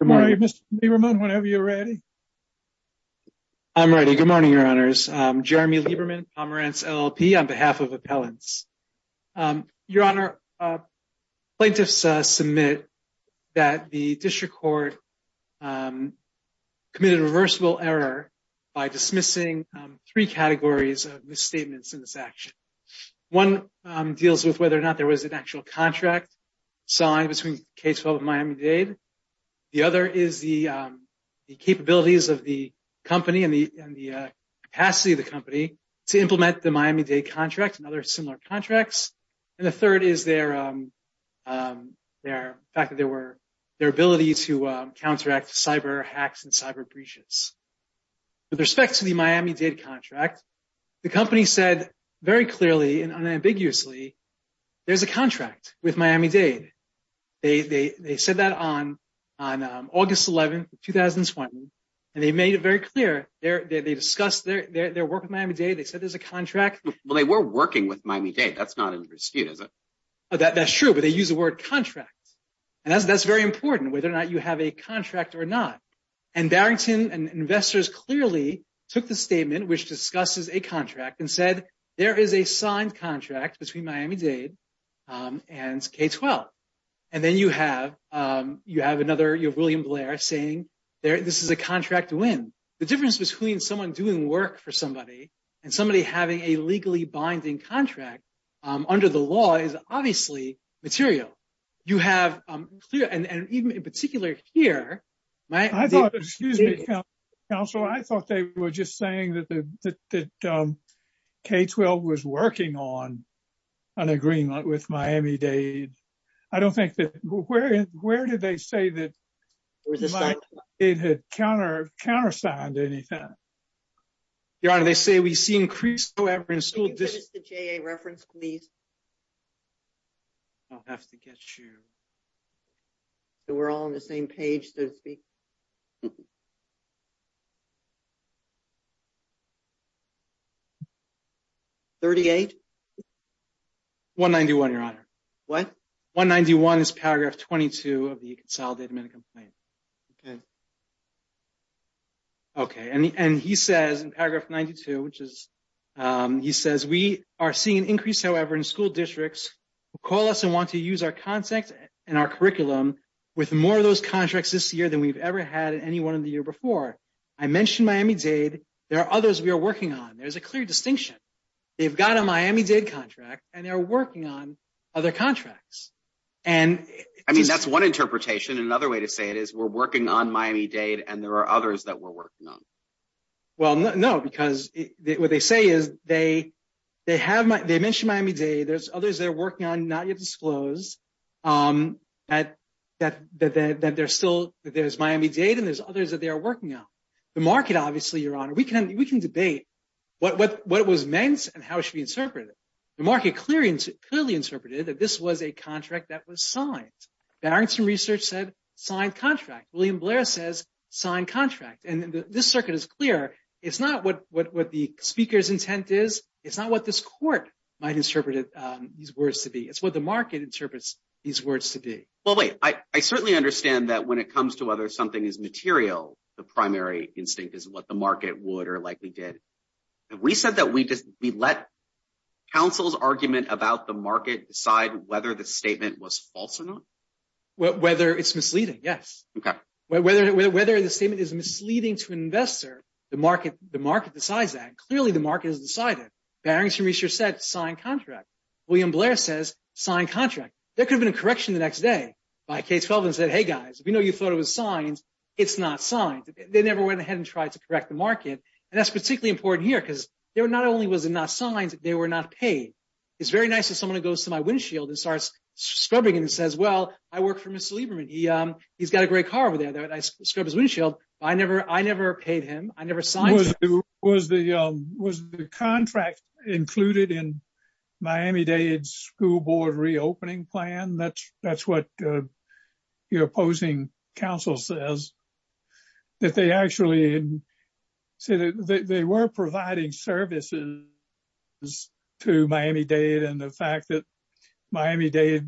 Good morning, Mr. Lieberman, whenever you're ready. I'm ready. Good morning, Your Honors. I'm Jeremy Lieberman, Pomerantz LLP, on behalf of Appellants. Your Honor, plaintiffs submit that the District Court committed a reversible error by dismissing three categories of misstatements in this action. One deals with whether or not there was an actual contract signed between K12 and Miami-Dade. The other is the capabilities of the company and the capacity of the company to implement the Miami-Dade contract and other similar contracts. And the third is their ability to counteract cyber hacks and cyber breaches. With respect to the Miami-Dade contract, the company said very clearly and unambiguously, there's a contract with Miami-Dade. They said that on August 11, 2020, and they made it very clear. They discussed their work with Miami-Dade. They said there's a contract. Well, they were working with Miami-Dade. That's not under dispute, is it? That's true, but they use the word contract. And that's very important, whether or not you have a contract or not. And Barrington Investors clearly took the statement, which discusses a contract, and said there is a signed contract between Miami-Dade and K12. And then you have William Blair saying this is a contract win. The difference between someone doing work for somebody and somebody having a legally binding contract under the law is obviously material. You have, and even in particular here, I thought, excuse me, counsel, I thought they were just saying that K12 was working on an agreement with Miami-Dade. I don't think that, where did they say that Miami-Dade had countersigned anything? Your Honor, they say we see increased reference. Can you finish the JA reference, please? I'll have to get you. So we're all on the same page, so to speak. 191, Your Honor. What? 191 is paragraph 22 of the consolidated medical complaint. Okay. Okay. And he says in paragraph 92, which is, he says, we are seeing an increase, however, in school districts who call us and want to use our context and our curriculum with more of those contracts this year than we've ever had in any one of the year before. I mentioned Miami-Dade. There are others we are working on. There's a clear distinction. They've got a Miami-Dade contract, and they're working on other contracts. I mean, that's one interpretation. Another way to say it is we're working on Miami-Dade, and there are others that we're working on. Well, no, because what they say is they have, they mentioned Miami-Dade. There's others they're working on, not yet disclosed, that they're still, that there's Miami-Dade, and there's others that they are working on. The market, obviously, Your Honor, we can debate what it was meant and how it should be interpreted. The market clearly interpreted that this was a contract that was signed. Barrington Research said, signed contract. William Blair says, signed contract. And this circuit is clear. It's not what the speaker's intent is. It's not what this court might interpret these words to be. It's what the market interprets these words to be. Well, wait, I certainly understand that when it comes to whether something is material, the primary instinct is what the market would or likely did. Have we said that we let counsel's argument about the market decide whether the statement was false or not? Whether it's misleading, yes. Okay. Whether the statement is misleading to an investor, the market decides that. Clearly, the market has decided. Barrington Research said, signed contract. William Blair says, signed contract. There could have been a correction the next day by K-12 and said, hey, guys, we know you thought it was signed. They never went ahead and tried to correct the market. And that's particularly important here because there not only was it not signed, they were not paid. It's very nice if someone goes to my windshield and starts scrubbing and says, well, I work for Mr. Lieberman. He's got a great car over there. I scrub his windshield. I never paid him. I never signed him. Was the contract included in Miami-Dade's school board reopening plan? And that's what your opposing counsel says, that they actually said that they were providing services to Miami-Dade. And the fact that Miami-Dade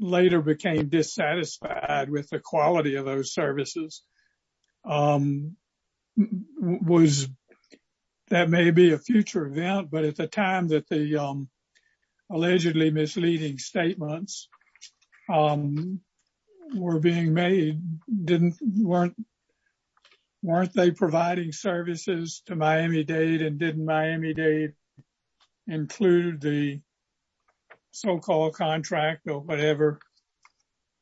later became dissatisfied with the quality of those services was that may be a future event. But at the time that the allegedly misleading statements were being made, weren't they providing services to Miami-Dade? And didn't Miami-Dade include the so-called contract or whatever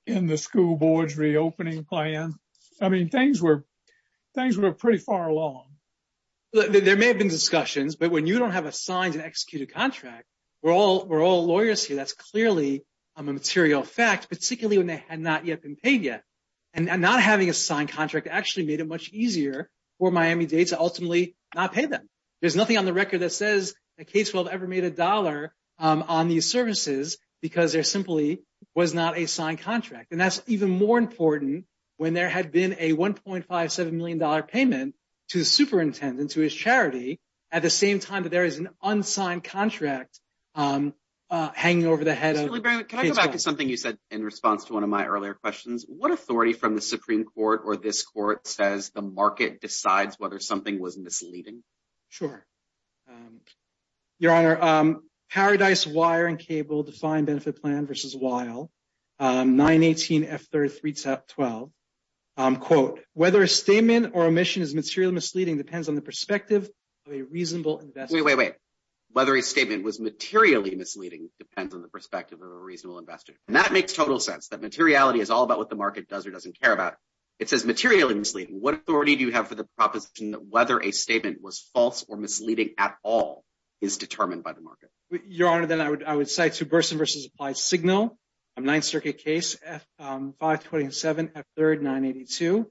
in the school board's reopening plan? I mean, things were pretty far along. There may have been discussions, but when you don't have a signed and executed contract, we're all lawyers here. That's clearly a material fact, particularly when they had not yet been paid yet. And not having a signed contract actually made it much easier for Miami-Dade to ultimately not pay them. There's nothing on the record that says that K-12 ever made a dollar on these services because there simply was not a signed contract. And that's even more important when there had been a $1.57 million payment to the superintendent, to his charity, at the same time that there is an unsigned contract hanging over the head of K-12. Can I go back to something you said in response to one of my earlier questions? What authority from the Supreme Court or this court says the market decides whether something was misleading? Sure. Your Honor, Paradise Wire and Cable Defined Benefit Plan v. Weill, 918F312, quote, whether a statement or omission is materially misleading depends on the perspective of a reasonable investor. Wait, wait, wait. Whether a statement was materially misleading depends on the perspective of a reasonable investor. And that makes total sense, that materiality is all about what the market does or doesn't care about. It says materially misleading. What authority do you have for the proposition that whether a statement was false or misleading at all is determined by the market? Your Honor, then I would say to Burson v. Applied Signal, a Ninth Circuit case, 527F3, 982.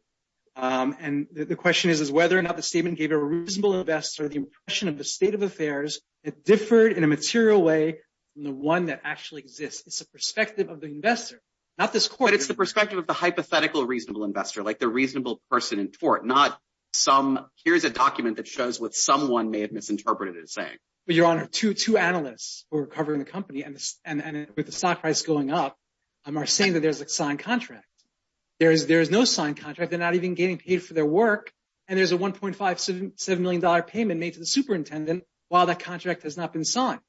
And the question is whether or not the statement gave a reasonable investor the impression of the state of affairs that differed in a material way from the one that actually exists. It's the perspective of the investor, not this court. But it's the perspective of the hypothetical reasonable investor, like the reasonable person in court, not some, here's a document that shows what someone may have misinterpreted it as saying. Your Honor, two analysts who were covering the company and with the stock price going up are saying that there's a signed contract. There is no signed contract. They're not even getting paid for their work. And there's a $1.57 million payment made to the superintendent while that contract has not been signed.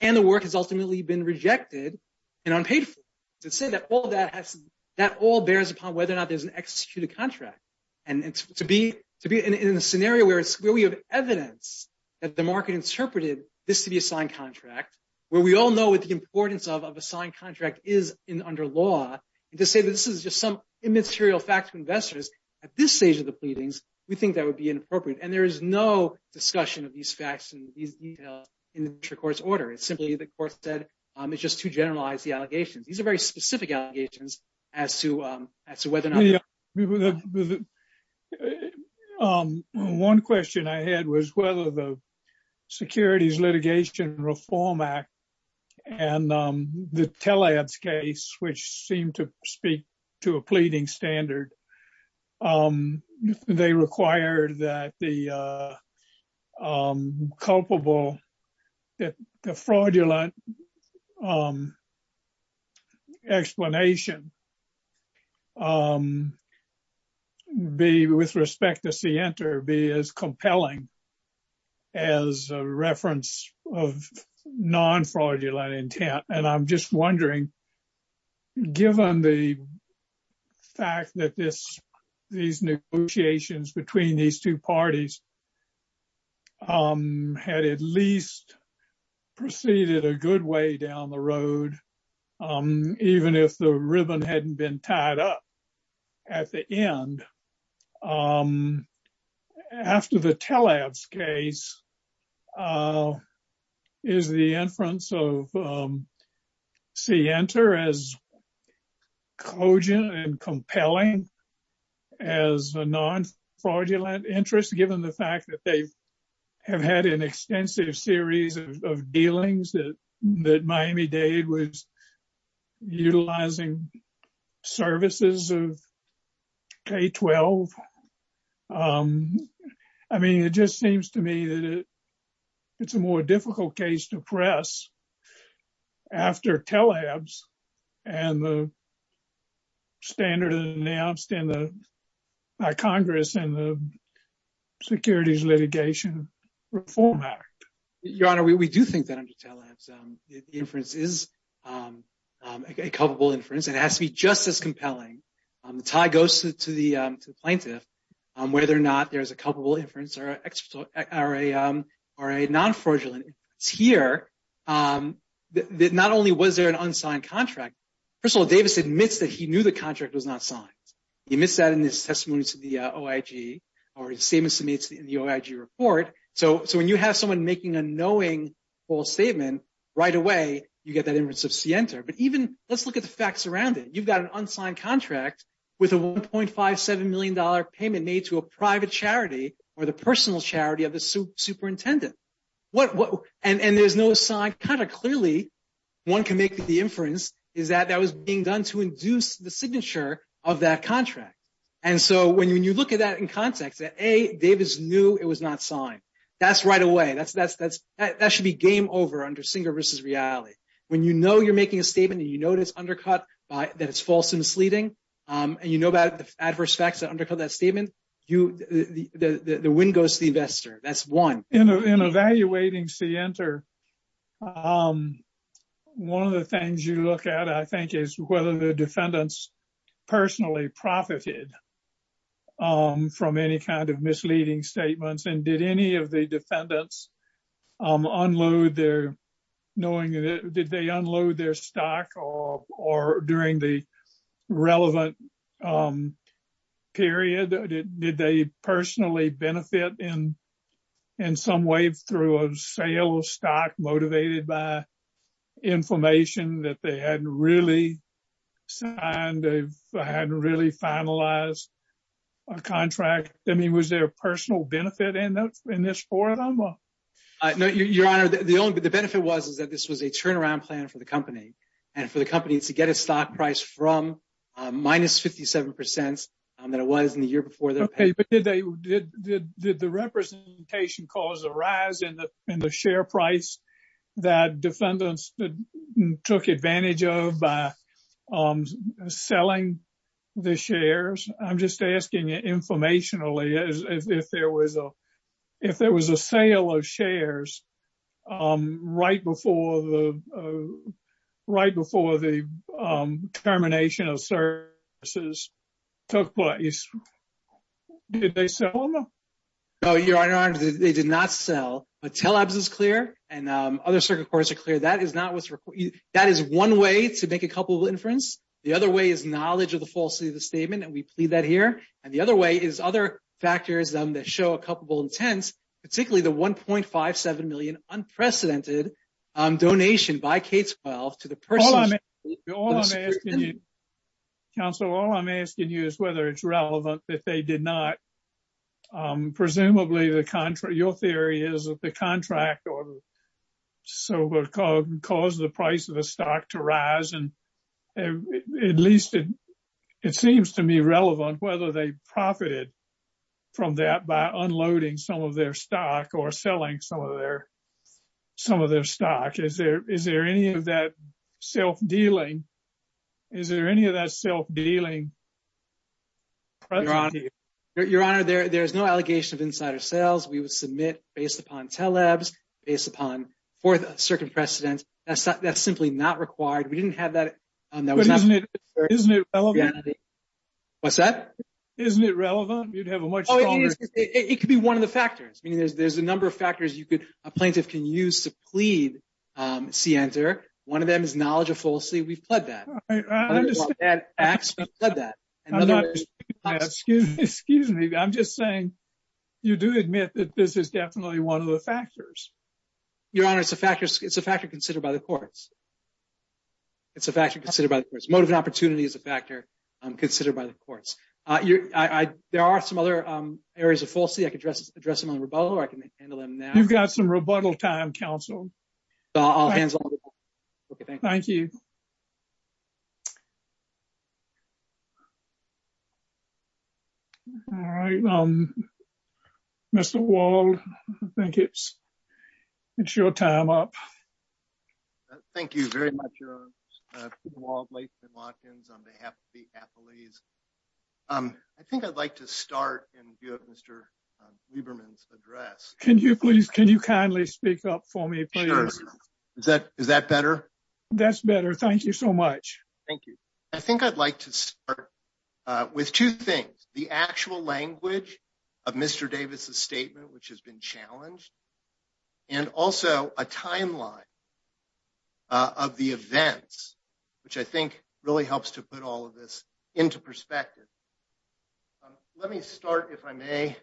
And the work has ultimately been rejected and unpaid for. To say that all that bears upon whether or not there's an executed contract. And to be in a scenario where we have evidence that the market interpreted this to be a signed contract, where we all know what the importance of a signed contract is under law, and to say that this is just some immaterial fact to investors at this stage of the pleadings, we think that would be inappropriate. And there is no discussion of these facts and these details in the court's order. It's simply, the court said, it's just to generalize the allegations. Very specific allegations as to whether or not... One question I had was whether the Securities Litigation Reform Act and the tele-ads case, which seemed to speak to a pleading standard, they required that the culpable, that the fraudulent explanation be, with respect to Sienta, be as compelling as a reference of non-fraudulent intent. And I'm just wondering, given the fact that these negotiations between these two parties had at least proceeded a good way down the road, even if the ribbon hadn't been tied up at the end, after the tele-ads case, is the inference of Sienta as cogent and compelling as a non-fraudulent interest, given the fact that they have had an extensive series of dealings that Miami-Dade was utilizing services of K-12? I mean, it just seems to me that it's a more difficult case to press after tele-ads and the standard announced by Congress in the Securities Litigation Reform Act. Your Honor, we do think that under tele-ads, the inference is a culpable inference and it has to be just as compelling. The tie goes to the plaintiff on whether or not there's a culpable inference or a non-fraudulent. It's here that not only was there an unsigned contract, First of all, Davis admits that he knew the contract was not signed. He admits that in his testimony to the OIG or his statements to me in the OIG report. So when you have someone making a knowing false statement, right away, you get that inference of Sienta. But even let's look at the facts around it. You've got an unsigned contract with a $1.57 million payment made to a private charity or the personal charity of the superintendent. And there's no sign. Kind of clearly, one can make the inference is that that was being done to induce the signature of that contract. And so when you look at that in context, that A, Davis knew it was not signed. That's right away. That should be game over under Singer v. Riali. When you know you're making a statement and you know it's undercut, that it's false and misleading, and you know about the adverse facts that undercut that statement, the wind goes to the investor. That's one. In evaluating Sienta, one of the things you look at, I think, is whether the defendants personally profited from any kind of misleading statements. And did any of the defendants unload their stock during the relevant period? Did they personally benefit in some way through a sale of stock motivated by information that they hadn't really signed, hadn't really finalized a contract? I mean, was there a personal benefit in this for them? Your Honor, the benefit was that this was a turnaround plan for the company. And for the company to get a stock price from minus 57 percent Did the representation cause a rise in the share price that defendants took advantage of by selling the shares? I'm just asking you informationally. If there was a sale of shares right before the termination of services took place, did they sell them? No, Your Honor, they did not sell. But TELABS is clear, and other circuit courts are clear. That is one way to make a culpable inference. The other way is knowledge of the falsity of the statement, and we plead that here. And the other way is other factors that show a culpable intent, particularly the $1.57 million unprecedented donation by K-12 to the person... Counselor, all I'm asking you is whether it's relevant that they did not. Presumably, your theory is that the contract caused the price of the stock to rise. At least it seems to me relevant whether they profited from that by unloading some of their stock or selling some of their stock. Is there any of that self-dealing? Is there any of that self-dealing? Your Honor, there's no allegation of insider sales. We would submit based upon TELABS, based upon fourth circuit precedent. That's simply not required. We didn't have that. Isn't it relevant? What's that? Isn't it relevant? You'd have a much stronger... It could be one of the factors. I mean, there's a number of factors you could... One of them is knowledge of falsity. We've pled that. I understand. Excuse me. I'm just saying you do admit that this is definitely one of the factors. Your Honor, it's a factor considered by the courts. It's a factor considered by the courts. Motive and opportunity is a factor considered by the courts. There are some other areas of falsity. I could address them on rebuttal or I can handle them now. You've got some rebuttal time, Counsel. All hands on deck. Thank you. Mr. Wald, I think it's your time up. Thank you very much, Your Honor. Peter Wald, Latham & Watkins on behalf of the appellees. I think I'd like to start and give Mr. Lieberman's address. Can you kindly speak up for me, please? Is that better? That's better. Thank you so much. Thank you. I think I'd like to start with two things. The actual language of Mr. Davis' statement, which has been challenged. And also a timeline of the events, which I think really helps to put all of this into perspective. Mr.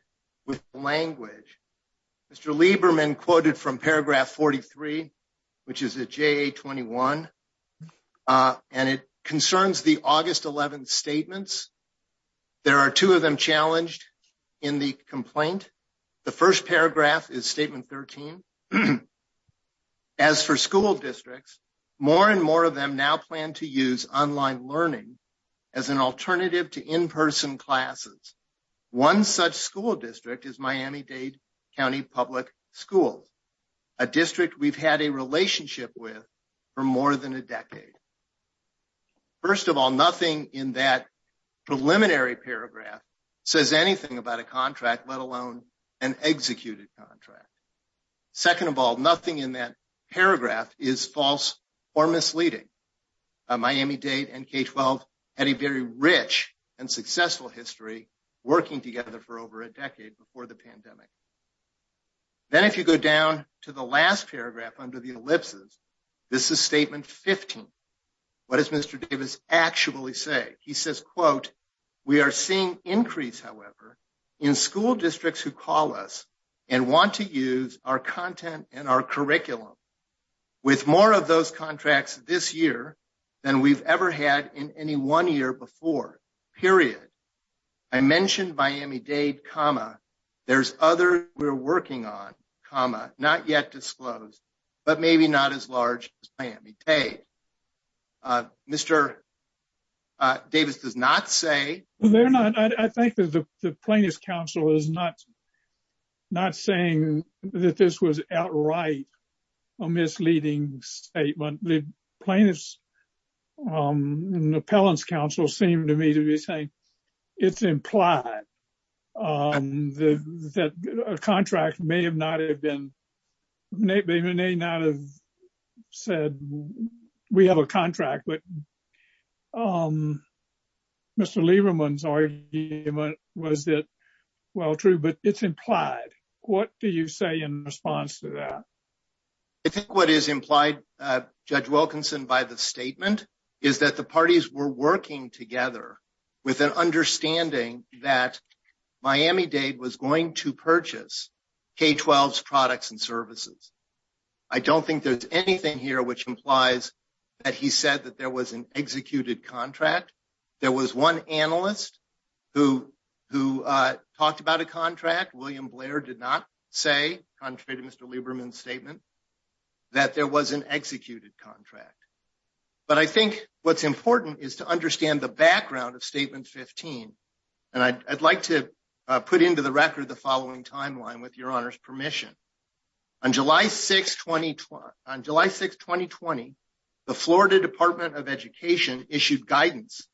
Lieberman quoted from paragraph 43, which is at JA-21. And it concerns the August 11th statements. There are two of them challenged in the complaint. The first paragraph is statement 13. As for school districts, more and more of them now plan to use online learning as an alternative to in-person classes. One such school district is Miami-Dade County Public Schools. A district we've had a relationship with for more than a decade. First of all, nothing in that preliminary paragraph says anything about a contract, let alone an executed contract. Second of all, nothing in that paragraph is false or misleading. Miami-Dade and K-12 had a very rich and successful history working together for over a decade before the pandemic. Then if you go down to the last paragraph under the ellipses, this is statement 15. What does Mr. Davis actually say? He says, quote, we are seeing increase, however, in school districts who call us and want to use our content and our curriculum. With more of those contracts this year than we've ever had in any one year before, period. I mentioned Miami-Dade, comma, there's other we're working on, comma, not yet disclosed, but maybe not as large as Miami-Dade. Mr. Davis does not say. I think the plaintiff's counsel is not saying that this was outright a misleading statement. The plaintiff's appellant's counsel seemed to me to be saying it's implied that a contract may not have been, may not have said we have a contract. But Mr. Lieberman's argument was that, well, true, but it's implied. What do you say in response to that? I think what is implied, Judge Wilkinson, by the statement is that the parties were working together with an understanding that Miami-Dade was going to purchase K-12's products and services. I don't think there's anything here which implies that he said that there was an executed contract. There was one analyst who talked about a contract. William Blair did not say, contrary to Mr. Lieberman's statement, that there was an executed contract. But I think what's important is to understand the background of Statement 15. And I'd like to put into the record the following timeline with Your Honor's permission. On July 6, 2020, the Florida Department of Education issued guidance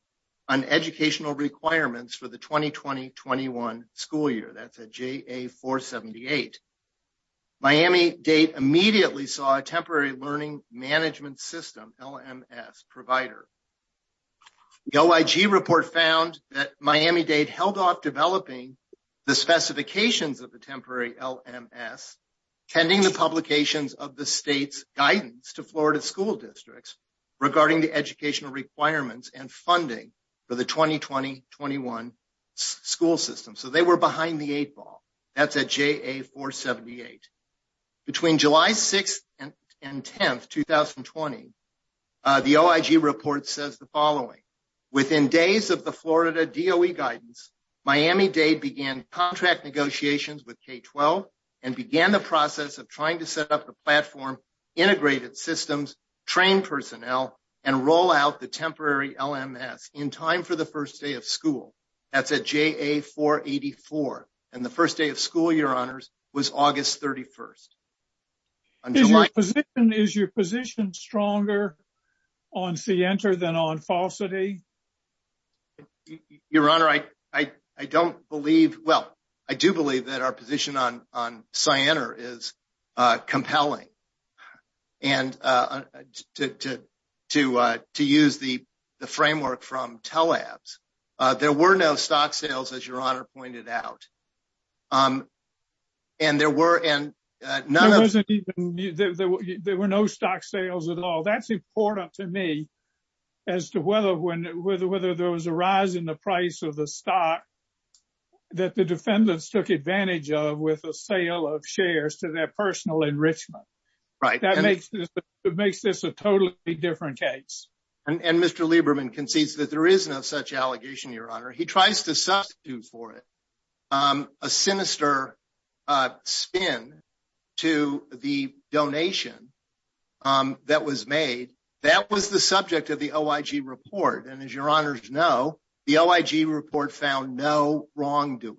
on educational requirements for the 2020-21 school year. That's a JA-478. Miami-Dade immediately saw a Temporary Learning Management System, LMS, provider. The OIG report found that Miami-Dade held off developing the specifications of the Temporary LMS, pending the publications of the state's guidance to Florida school districts regarding the educational requirements and funding for the 2020-21 school system. So they were behind the eight ball. That's a JA-478. Between July 6 and 10, 2020, the OIG report says the following. Within days of the Florida DOE guidance, Miami-Dade began contract negotiations with K-12 and began the process of trying to set up the platform, integrated systems, trained personnel, and roll out the Temporary LMS in time for the first day of school. That's a JA-484. And the first day of school, Your Honor, was August 31. Is your position stronger on Cienter than on Falsity? Your Honor, I don't believe, well, I do believe that our position on Cienter is compelling. And to use the framework from Telabs, there were no stock sales, as Your Honor pointed out. And there were no stock sales at all. That's important to me, as to whether there was a rise in the price of the stock that the defendants took advantage of with a sale of shares to their personal enrichment. That makes this a totally different case. And Mr. Lieberman concedes that there is no such allegation, Your Honor. He tries to substitute for it a sinister spin to the donation that was made. That was the subject of the OIG report. And as Your Honors know, the OIG report found no wrongdoing.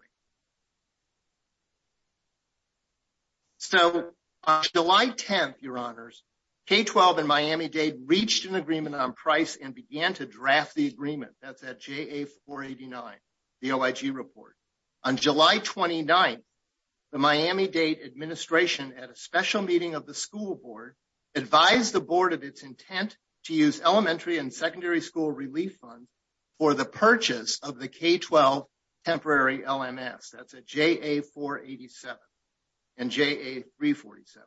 So, on July 10, Your Honors, K-12 and Miami-Dade reached an agreement on price and began to draft the agreement. That's at JA-489, the OIG report. On July 29, the Miami-Dade administration, at a special meeting of the school board, advised the board of its intent to use elementary and secondary school relief funds for the purchase of the K-12 temporary LMS. That's at JA-487 and JA-347.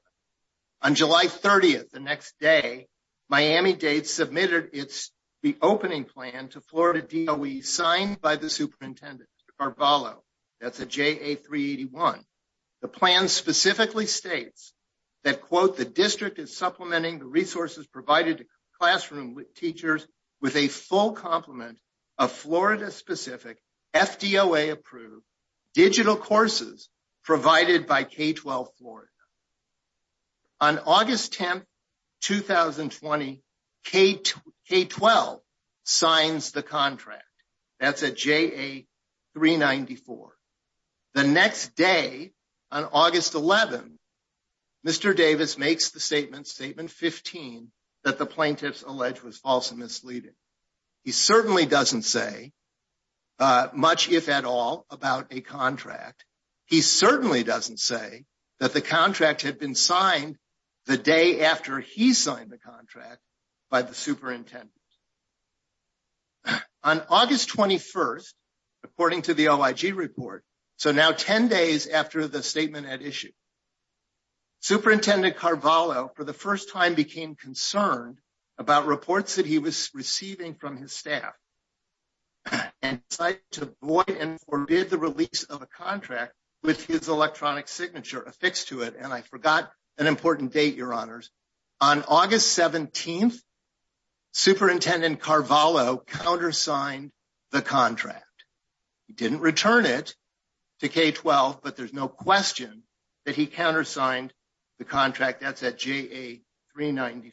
On July 30, the next day, Miami-Dade submitted its reopening plan to Florida DOE, signed by the superintendent, Mr. Carballo. That's at JA-381. The district is supplementing the resources provided to classroom teachers with a full complement of Florida-specific, FDOA-approved digital courses provided by K-12 Florida. On August 10, 2020, K-12 signs the contract. That's at JA-394. The next day, on August 11, Mr. Davis makes the statement, Statement 15, that the plaintiff's allege was false and misleading. He certainly doesn't say much, if at all, about a contract. He certainly doesn't say that the contract had been signed the day after he signed the contract by the superintendent. On August 21, according to the OIG report, so now 10 days after the statement had issued, Superintendent Carballo, for the first time, became concerned about reports that he was receiving from his staff and decided to void and forbid the release of a contract with his electronic signature affixed to it. And I forgot an important date, Your Honors. On August 17, Superintendent Carballo countersigned the contract. He didn't return it to K-12, but there's no question that he countersigned the contract. That's at JA-394.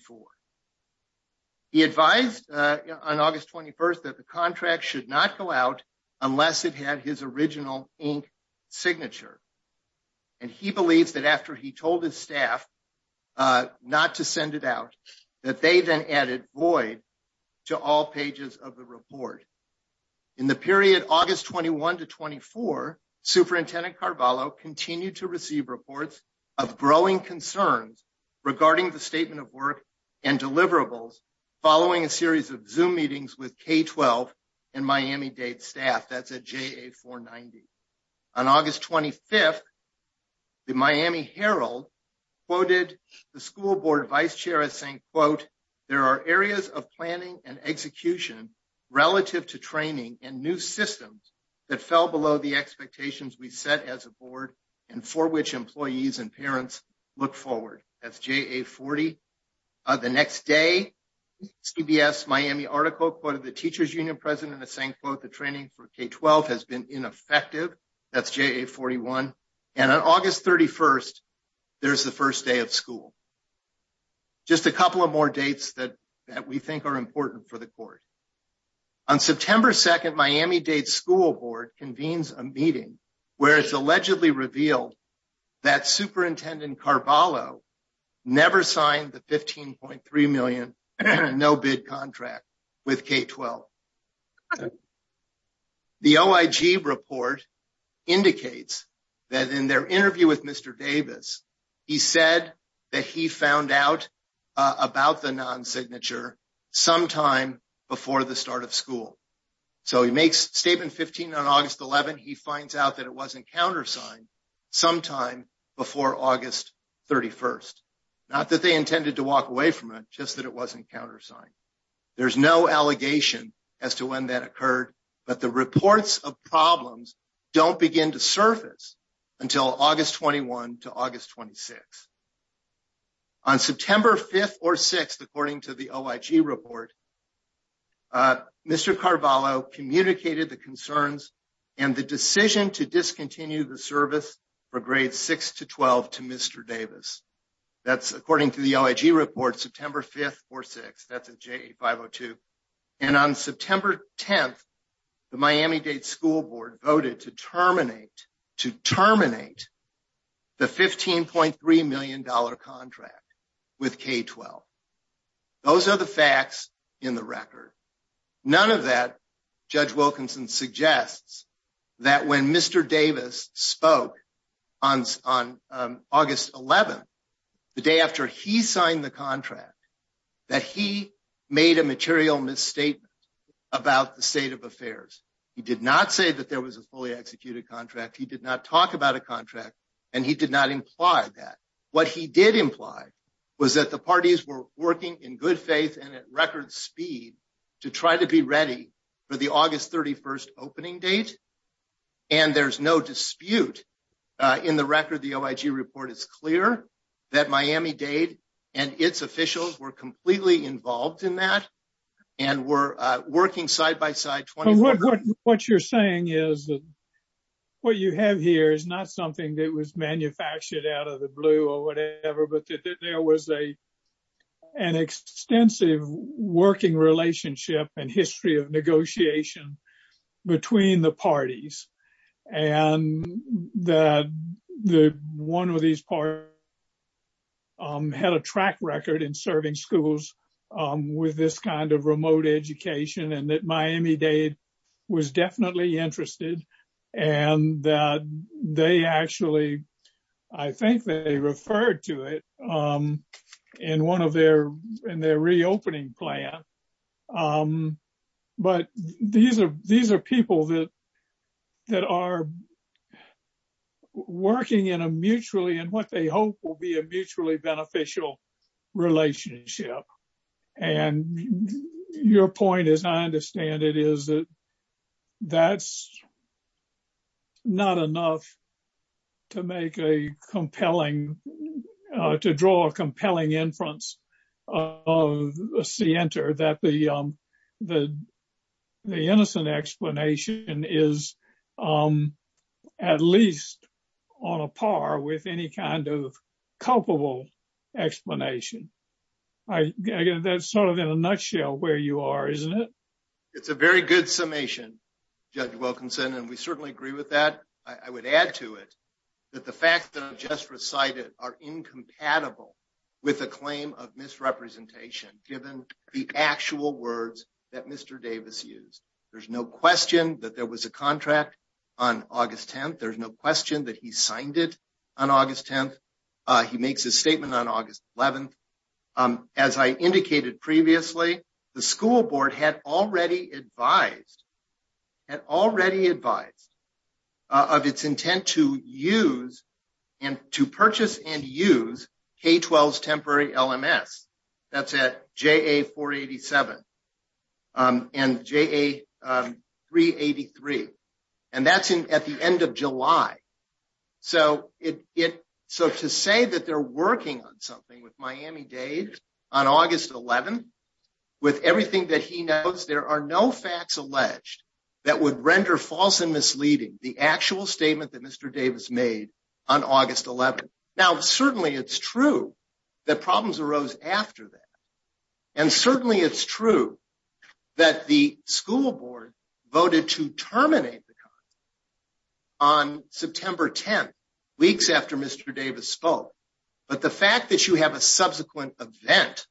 He advised on August 21 that the contract should not go out unless it had his original ink signature. And he believes that after he told his staff not to send it out, that they then added void to all pages of the report. In the period August 21 to 24, Superintendent Carballo continued to receive reports of growing concerns regarding the statement of work and deliverables following a series of Zoom meetings with K-12 and Miami-Dade staff. That's at JA-490. On August 25, the Miami Herald quoted the school board vice chair as saying, quote, there are areas of planning and execution relative to training and new systems that fell below the expectations we set as a board and for which employees and parents look forward. That's JA-40. The next day, CBS Miami article quoted the teachers union president as saying, quote, the training for K-12 has been ineffective. That's JA-41. And on August 31, there's the first day of school. Just a couple of more dates that we think are important for the court. On September 2, Miami-Dade School Board convenes a meeting where it's allegedly revealed that Superintendent Carballo never signed the $15.3 million no-bid contract with K-12. The OIG report indicates that in their interview with Mr. Davis, he said that he found out about the non-signature sometime before the start of school. So he makes statement 15 on August 11, he finds out that it wasn't countersigned sometime before August 31. Not that they intended to walk away from it, just that it wasn't countersigned. There's no allegation as to when that occurred, but the reports of problems don't begin to surface until August 21 to August 26. On September 5 or 6, according to the OIG report, Mr. Carballo communicated the concerns and the decision to discontinue the service for grades 6 to 12 to Mr. Davis. That's according to the OIG report, September 5 or 6, that's at JA-502. And on September 10, the Miami-Dade School Board voted to terminate the $15.3 million contract with K-12. Those are the facts in the record. None of that, Judge Wilkinson suggests, that when Mr. Davis spoke on August 11, the day after he signed the contract, that he made a material misstatement about the state of affairs. He did not say that there was a fully executed contract, he did not talk about a contract, and he did not imply that. What he did imply was that the parties were working in good faith and at record speed to try to be ready for the August 31 opening date. And there's no dispute in the record. The OIG report is clear that Miami-Dade and its officials were completely involved in that and were working side-by-side. What you're saying is that what you have here is not something that was manufactured out of the blue or whatever, but that there was an extensive working relationship and history of negotiation between the parties. And that one of these parties had a track record in serving schools with this kind of remote education, and that Miami-Dade was definitely interested, and that they actually, I think they referred to it in their reopening plan. But these are people that are working in a mutually, and what they hope will be a mutually beneficial relationship. And your point, as I understand it, is that that's not enough to make a compelling, to draw a compelling inference of Sienter that the innocent explanation is at least on a par with any kind of culpable explanation. That's sort of in a nutshell where you are, isn't it? It's a very good summation, Judge Wilkinson, and we certainly agree with that. I would add to it that the facts that I've just recited are incompatible with the claim of misrepresentation, given the actual words that Mr. Davis used. There's no question that there was a contract on August 10th. There's no question that he signed it on August 10th. He makes his statement on August 11th. As I indicated previously, the school board had already advised of its intent to purchase and use K-12's temporary LMS. That's at JA-487 and JA-383. And that's at the end of July. So to say that they're working on something with Miami-Dade on August 11th, with everything that he knows, there are no facts alleged that would render false and misleading the actual statement that Mr. Davis made on August 11th. Now, certainly it's true that problems arose after that. And certainly it's true that the school board voted to terminate the contract on September 10th, weeks after Mr. Davis spoke. But the fact that you have a subsequent event,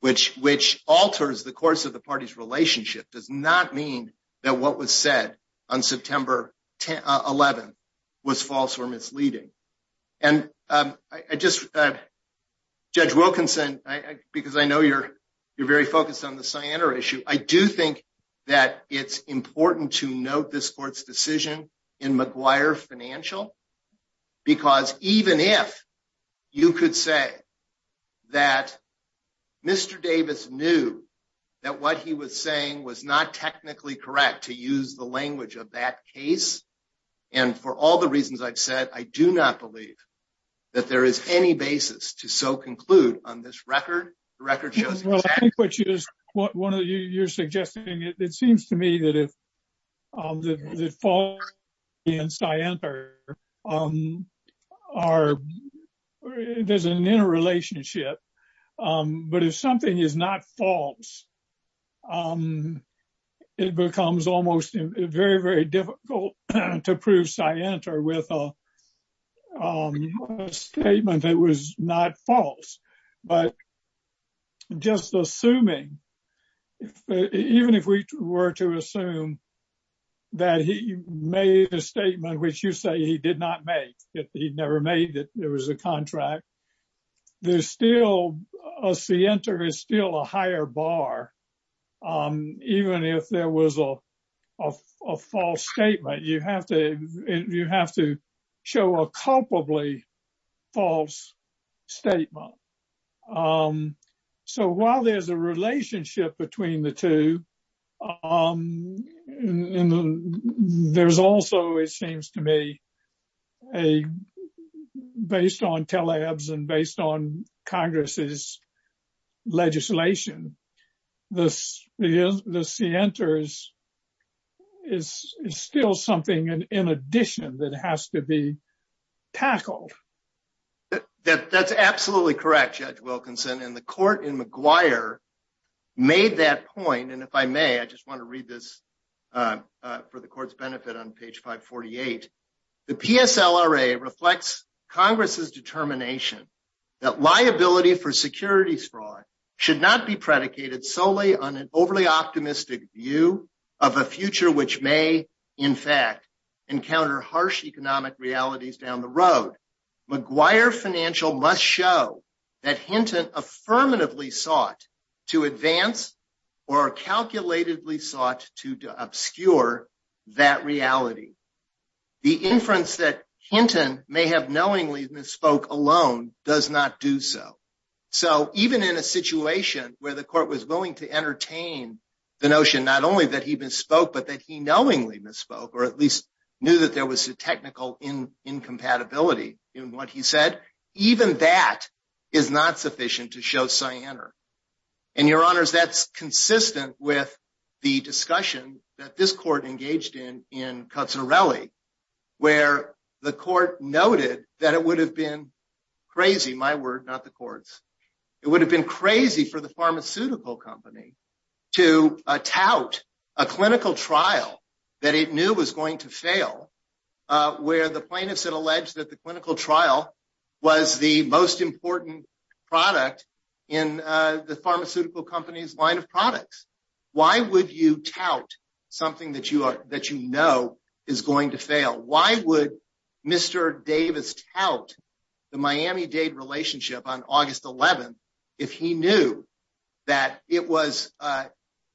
which alters the course of the party's relationship, does not mean that what was said on September 11th was false or misleading. And Judge Wilkinson, because I know you're very focused on the Siena issue, I do think that it's important to note this court's decision in McGuire Financial. Because even if you could say that Mr. Davis knew that what he was saying was not technically correct to use the language of that case, and for all the reasons I've said, I do not believe that there is any basis to so conclude on this record. Well, I think what you're suggesting, it seems to me that if the fall in Siena, there's an interrelationship. But if something is not false, it becomes almost very, very difficult to prove Siena with a statement that was not false. But just assuming, even if we were to assume that he made a statement, which you say he did not make it, he never made it, there was a contract. There's still a Siena is still a higher bar. Even if there was a false statement, you have to show a culpably false statement. So while there's a relationship between the two, there's also, it seems to me, based on tele-abs and based on Congress's legislation, the Siena is still something in addition that has to be tackled. That's absolutely correct, Judge Wilkinson. And the court in McGuire made that point. And if I may, I just want to read this for the court's benefit on page 548. The PSLRA reflects Congress's determination that liability for securities fraud should not be predicated solely on an overly optimistic view of a future which may, in fact, encounter harsh economic realities down the road. McGuire Financial must show that Hinton affirmatively sought to advance or calculatedly sought to obscure that reality. The inference that Hinton may have knowingly misspoke alone does not do so. So even in a situation where the court was willing to entertain the notion not only that he misspoke, but that he knowingly misspoke, or at least knew that there was a technical incompatibility in what he said, even that is not sufficient to show Siena. And, Your Honors, that's consistent with the discussion that this court engaged in in Cozzarelli, where the court noted that it would have been crazy, my word, not the court's. It would have been crazy for the pharmaceutical company to tout a clinical trial that it knew was going to fail, where the plaintiffs had alleged that the clinical trial was the most important product in the pharmaceutical company's line of products. Why would you tout something that you know is going to fail? Why would Mr. Davis tout the Miami-Dade relationship on August 11th if he knew that it was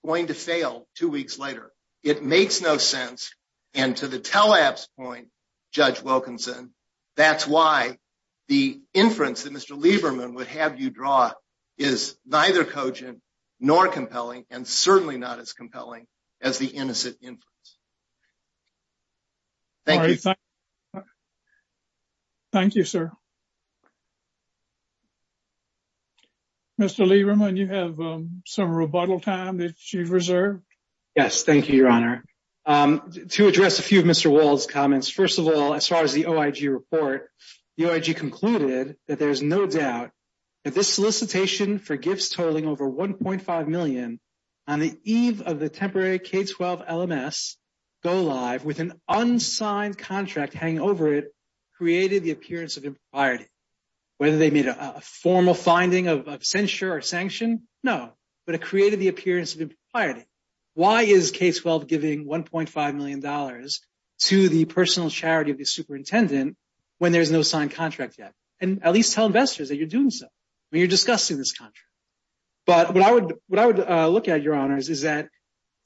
going to fail two weeks later? It makes no sense. And to the tele-app's point, Judge Wilkinson, that's why the inference that Mr. Lieberman would have you draw is neither cogent nor compelling and certainly not as compelling as the innocent inference. Thank you. Thank you, sir. Mr. Lieberman, you have some rebuttal time that you've reserved. Yes, thank you, Your Honor. To address a few of Mr. Wald's comments, first of all, as far as the OIG report, the OIG concluded that there's no doubt that this solicitation for gifts totaling over $1.5 million on the eve of the temporary K-12 LMS go-live with an unsigned contract hanging over it created the appearance of impropriety. Whether they made a formal finding of censure or sanction, no, but it created the appearance of impropriety. Why is K-12 giving $1.5 million to the personal charity of the superintendent when there's no signed contract yet? And at least tell investors that you're doing so when you're discussing this contract. But what I would look at, Your Honors, is that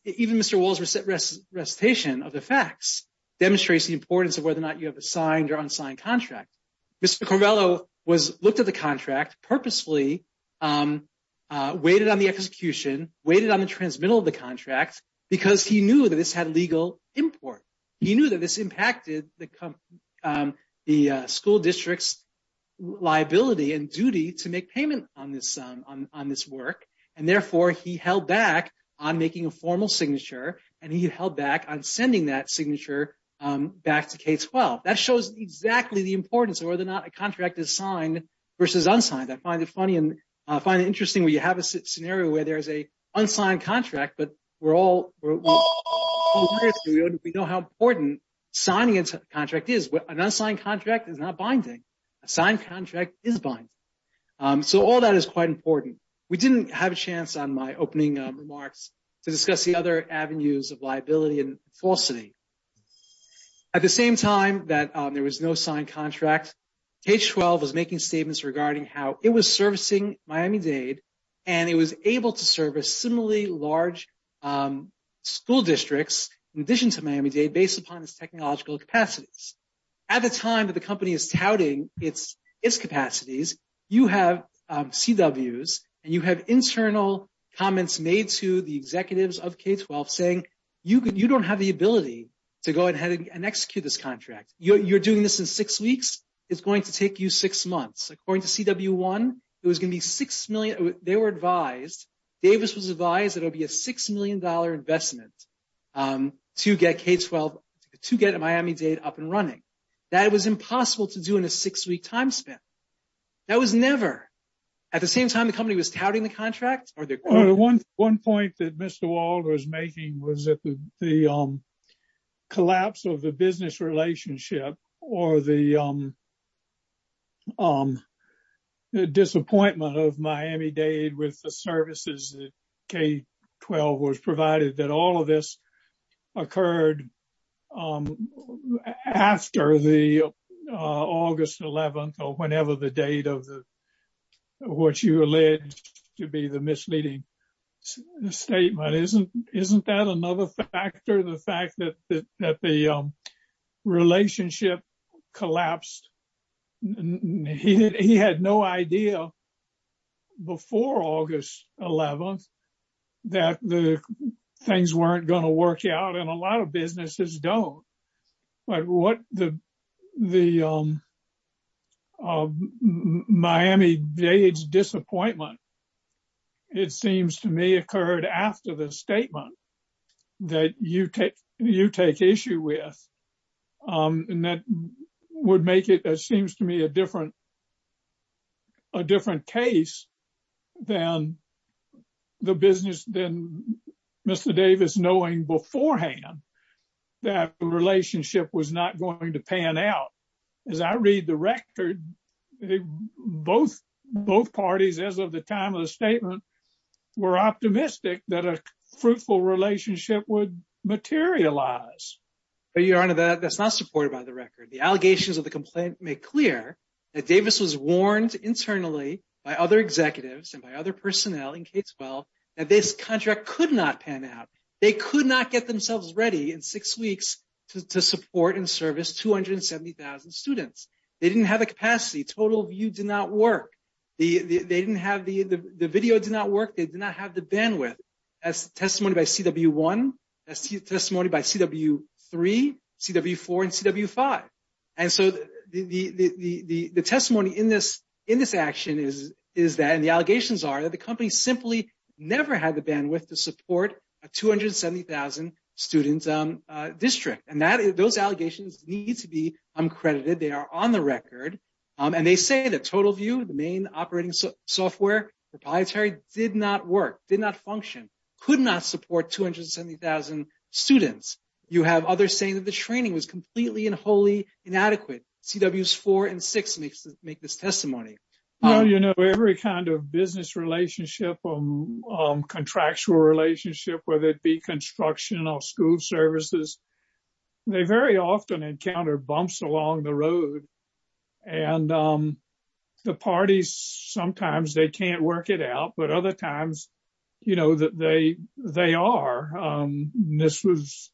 even Mr. Wald's recitation of the facts demonstrates the importance of whether or not you have a signed or unsigned contract. Mr. Corrello looked at the contract purposefully, waited on the execution, waited on the transmittal of the contract because he knew that this had legal import. He knew that this impacted the school district's liability and duty to make payment on this work. And therefore, he held back on making a formal signature, and he held back on sending that signature back to K-12. That shows exactly the importance of whether or not a contract is signed versus unsigned. I find it funny and I find it interesting where you have a scenario where there's an unsigned contract, but we're all aware of it. We know how important signing a contract is. An unsigned contract is not binding. A signed contract is binding. So all that is quite important. We didn't have a chance on my opening remarks to discuss the other avenues of liability and falsity. At the same time that there was no signed contract, K-12 was making statements regarding how it was servicing Miami-Dade and it was able to service similarly large school districts in addition to Miami-Dade based upon its technological capacities. At the time that the company is touting its capacities, you have CWs and you have internal comments made to the executives of K-12 saying you don't have the ability to go ahead and execute this contract. You're doing this in six weeks. It's going to take you six months. According to CW1, it was going to be $6 million. They were advised, Davis was advised that it would be a $6 million investment to get K-12, to get Miami-Dade up and running. That was impossible to do in a six-week time span. That was never. At the same time the company was touting the contract? What you alleged to be the misleading statement. Isn't that another factor, the fact that the relationship collapsed? He had no idea before August 11th that the things weren't going to work out and a lot of businesses don't. What the Miami-Dade's disappointment, it seems to me, occurred after the statement that you take issue with. That would make it, it seems to me, a different case than Mr. Davis knowing beforehand that the relationship was not going to pan out. As I read the record, both parties, as of the time of the statement, were optimistic that a fruitful relationship would materialize. But Your Honor, that's not supported by the record. The allegations of the complaint make clear that Davis was warned internally by other executives and by other personnel in K-12 that this contract could not pan out. They could not get themselves ready in six weeks to support and service 270,000 students. They didn't have the capacity. Total view did not work. The video did not work. They did not have the bandwidth. That's testimony by CW1, that's testimony by CW3, CW4, and CW5. And so the testimony in this action is that and the allegations are that the company simply never had the bandwidth to support a 270,000 students district. And those allegations need to be uncredited. They are on the record. And they say that Total View, the main operating software proprietary, did not work, did not function, could not support 270,000 students. You have others saying that the training was completely and wholly inadequate. CWs 4 and 6 make this testimony. You know, every kind of business relationship, contractual relationship, whether it be construction or school services, they very often encounter bumps along the road. And the parties, sometimes they can't work it out. But other times, you know that they they are. This was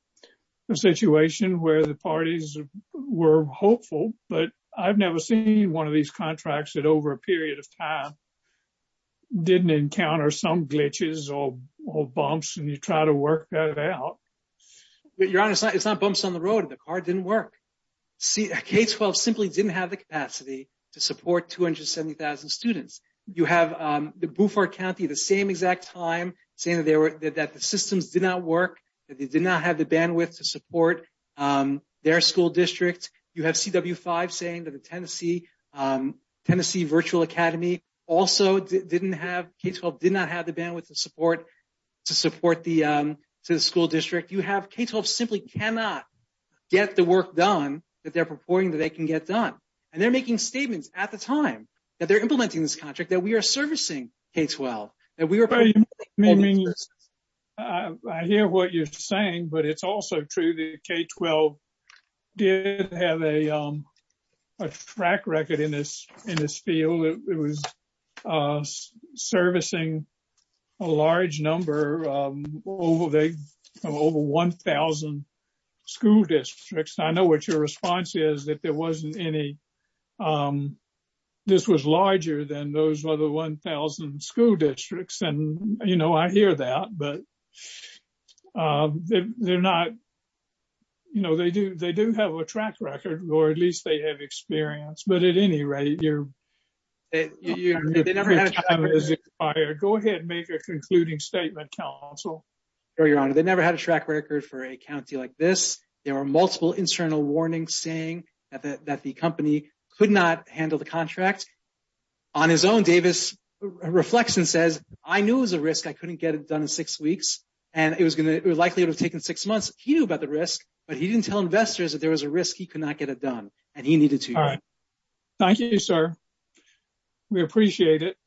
a situation where the parties were hopeful. But I've never seen one of these contracts that over a period of time didn't encounter some glitches or bumps. And you try to work that out. Your Honor, it's not bumps on the road. The card didn't work. K-12 simply didn't have the capacity to support 270,000 students. You have Buford County the same exact time saying that the systems did not work, that they did not have the bandwidth to support their school district. You have CW-5 saying that the Tennessee Virtual Academy also didn't have, K-12 did not have the bandwidth to support the school district. You have K-12 simply cannot get the work done that they're purporting that they can get done. And they're making statements at the time that they're implementing this contract that we are servicing K-12. I hear what you're saying, but it's also true that K-12 did have a track record in this field. It was servicing a large number of over 1,000 school districts. I know what your response is, that there wasn't any, this was larger than those other 1,000 school districts. And, you know, I hear that, but they're not, you know, they do have a track record, or at least they have experience. But at any rate, your time is expired. Go ahead and make a concluding statement, counsel. No, Your Honor. They never had a track record for a county like this. There are multiple internal warnings saying that the company could not handle the contract. On his own, Davis reflects and says, I knew it was a risk. I couldn't get it done in six weeks. And it was going to, it likely would have taken six months. He knew about the risk, but he didn't tell investors that there was a risk he could not get it done. And he needed to know. All right. Thank you, sir. We appreciate it.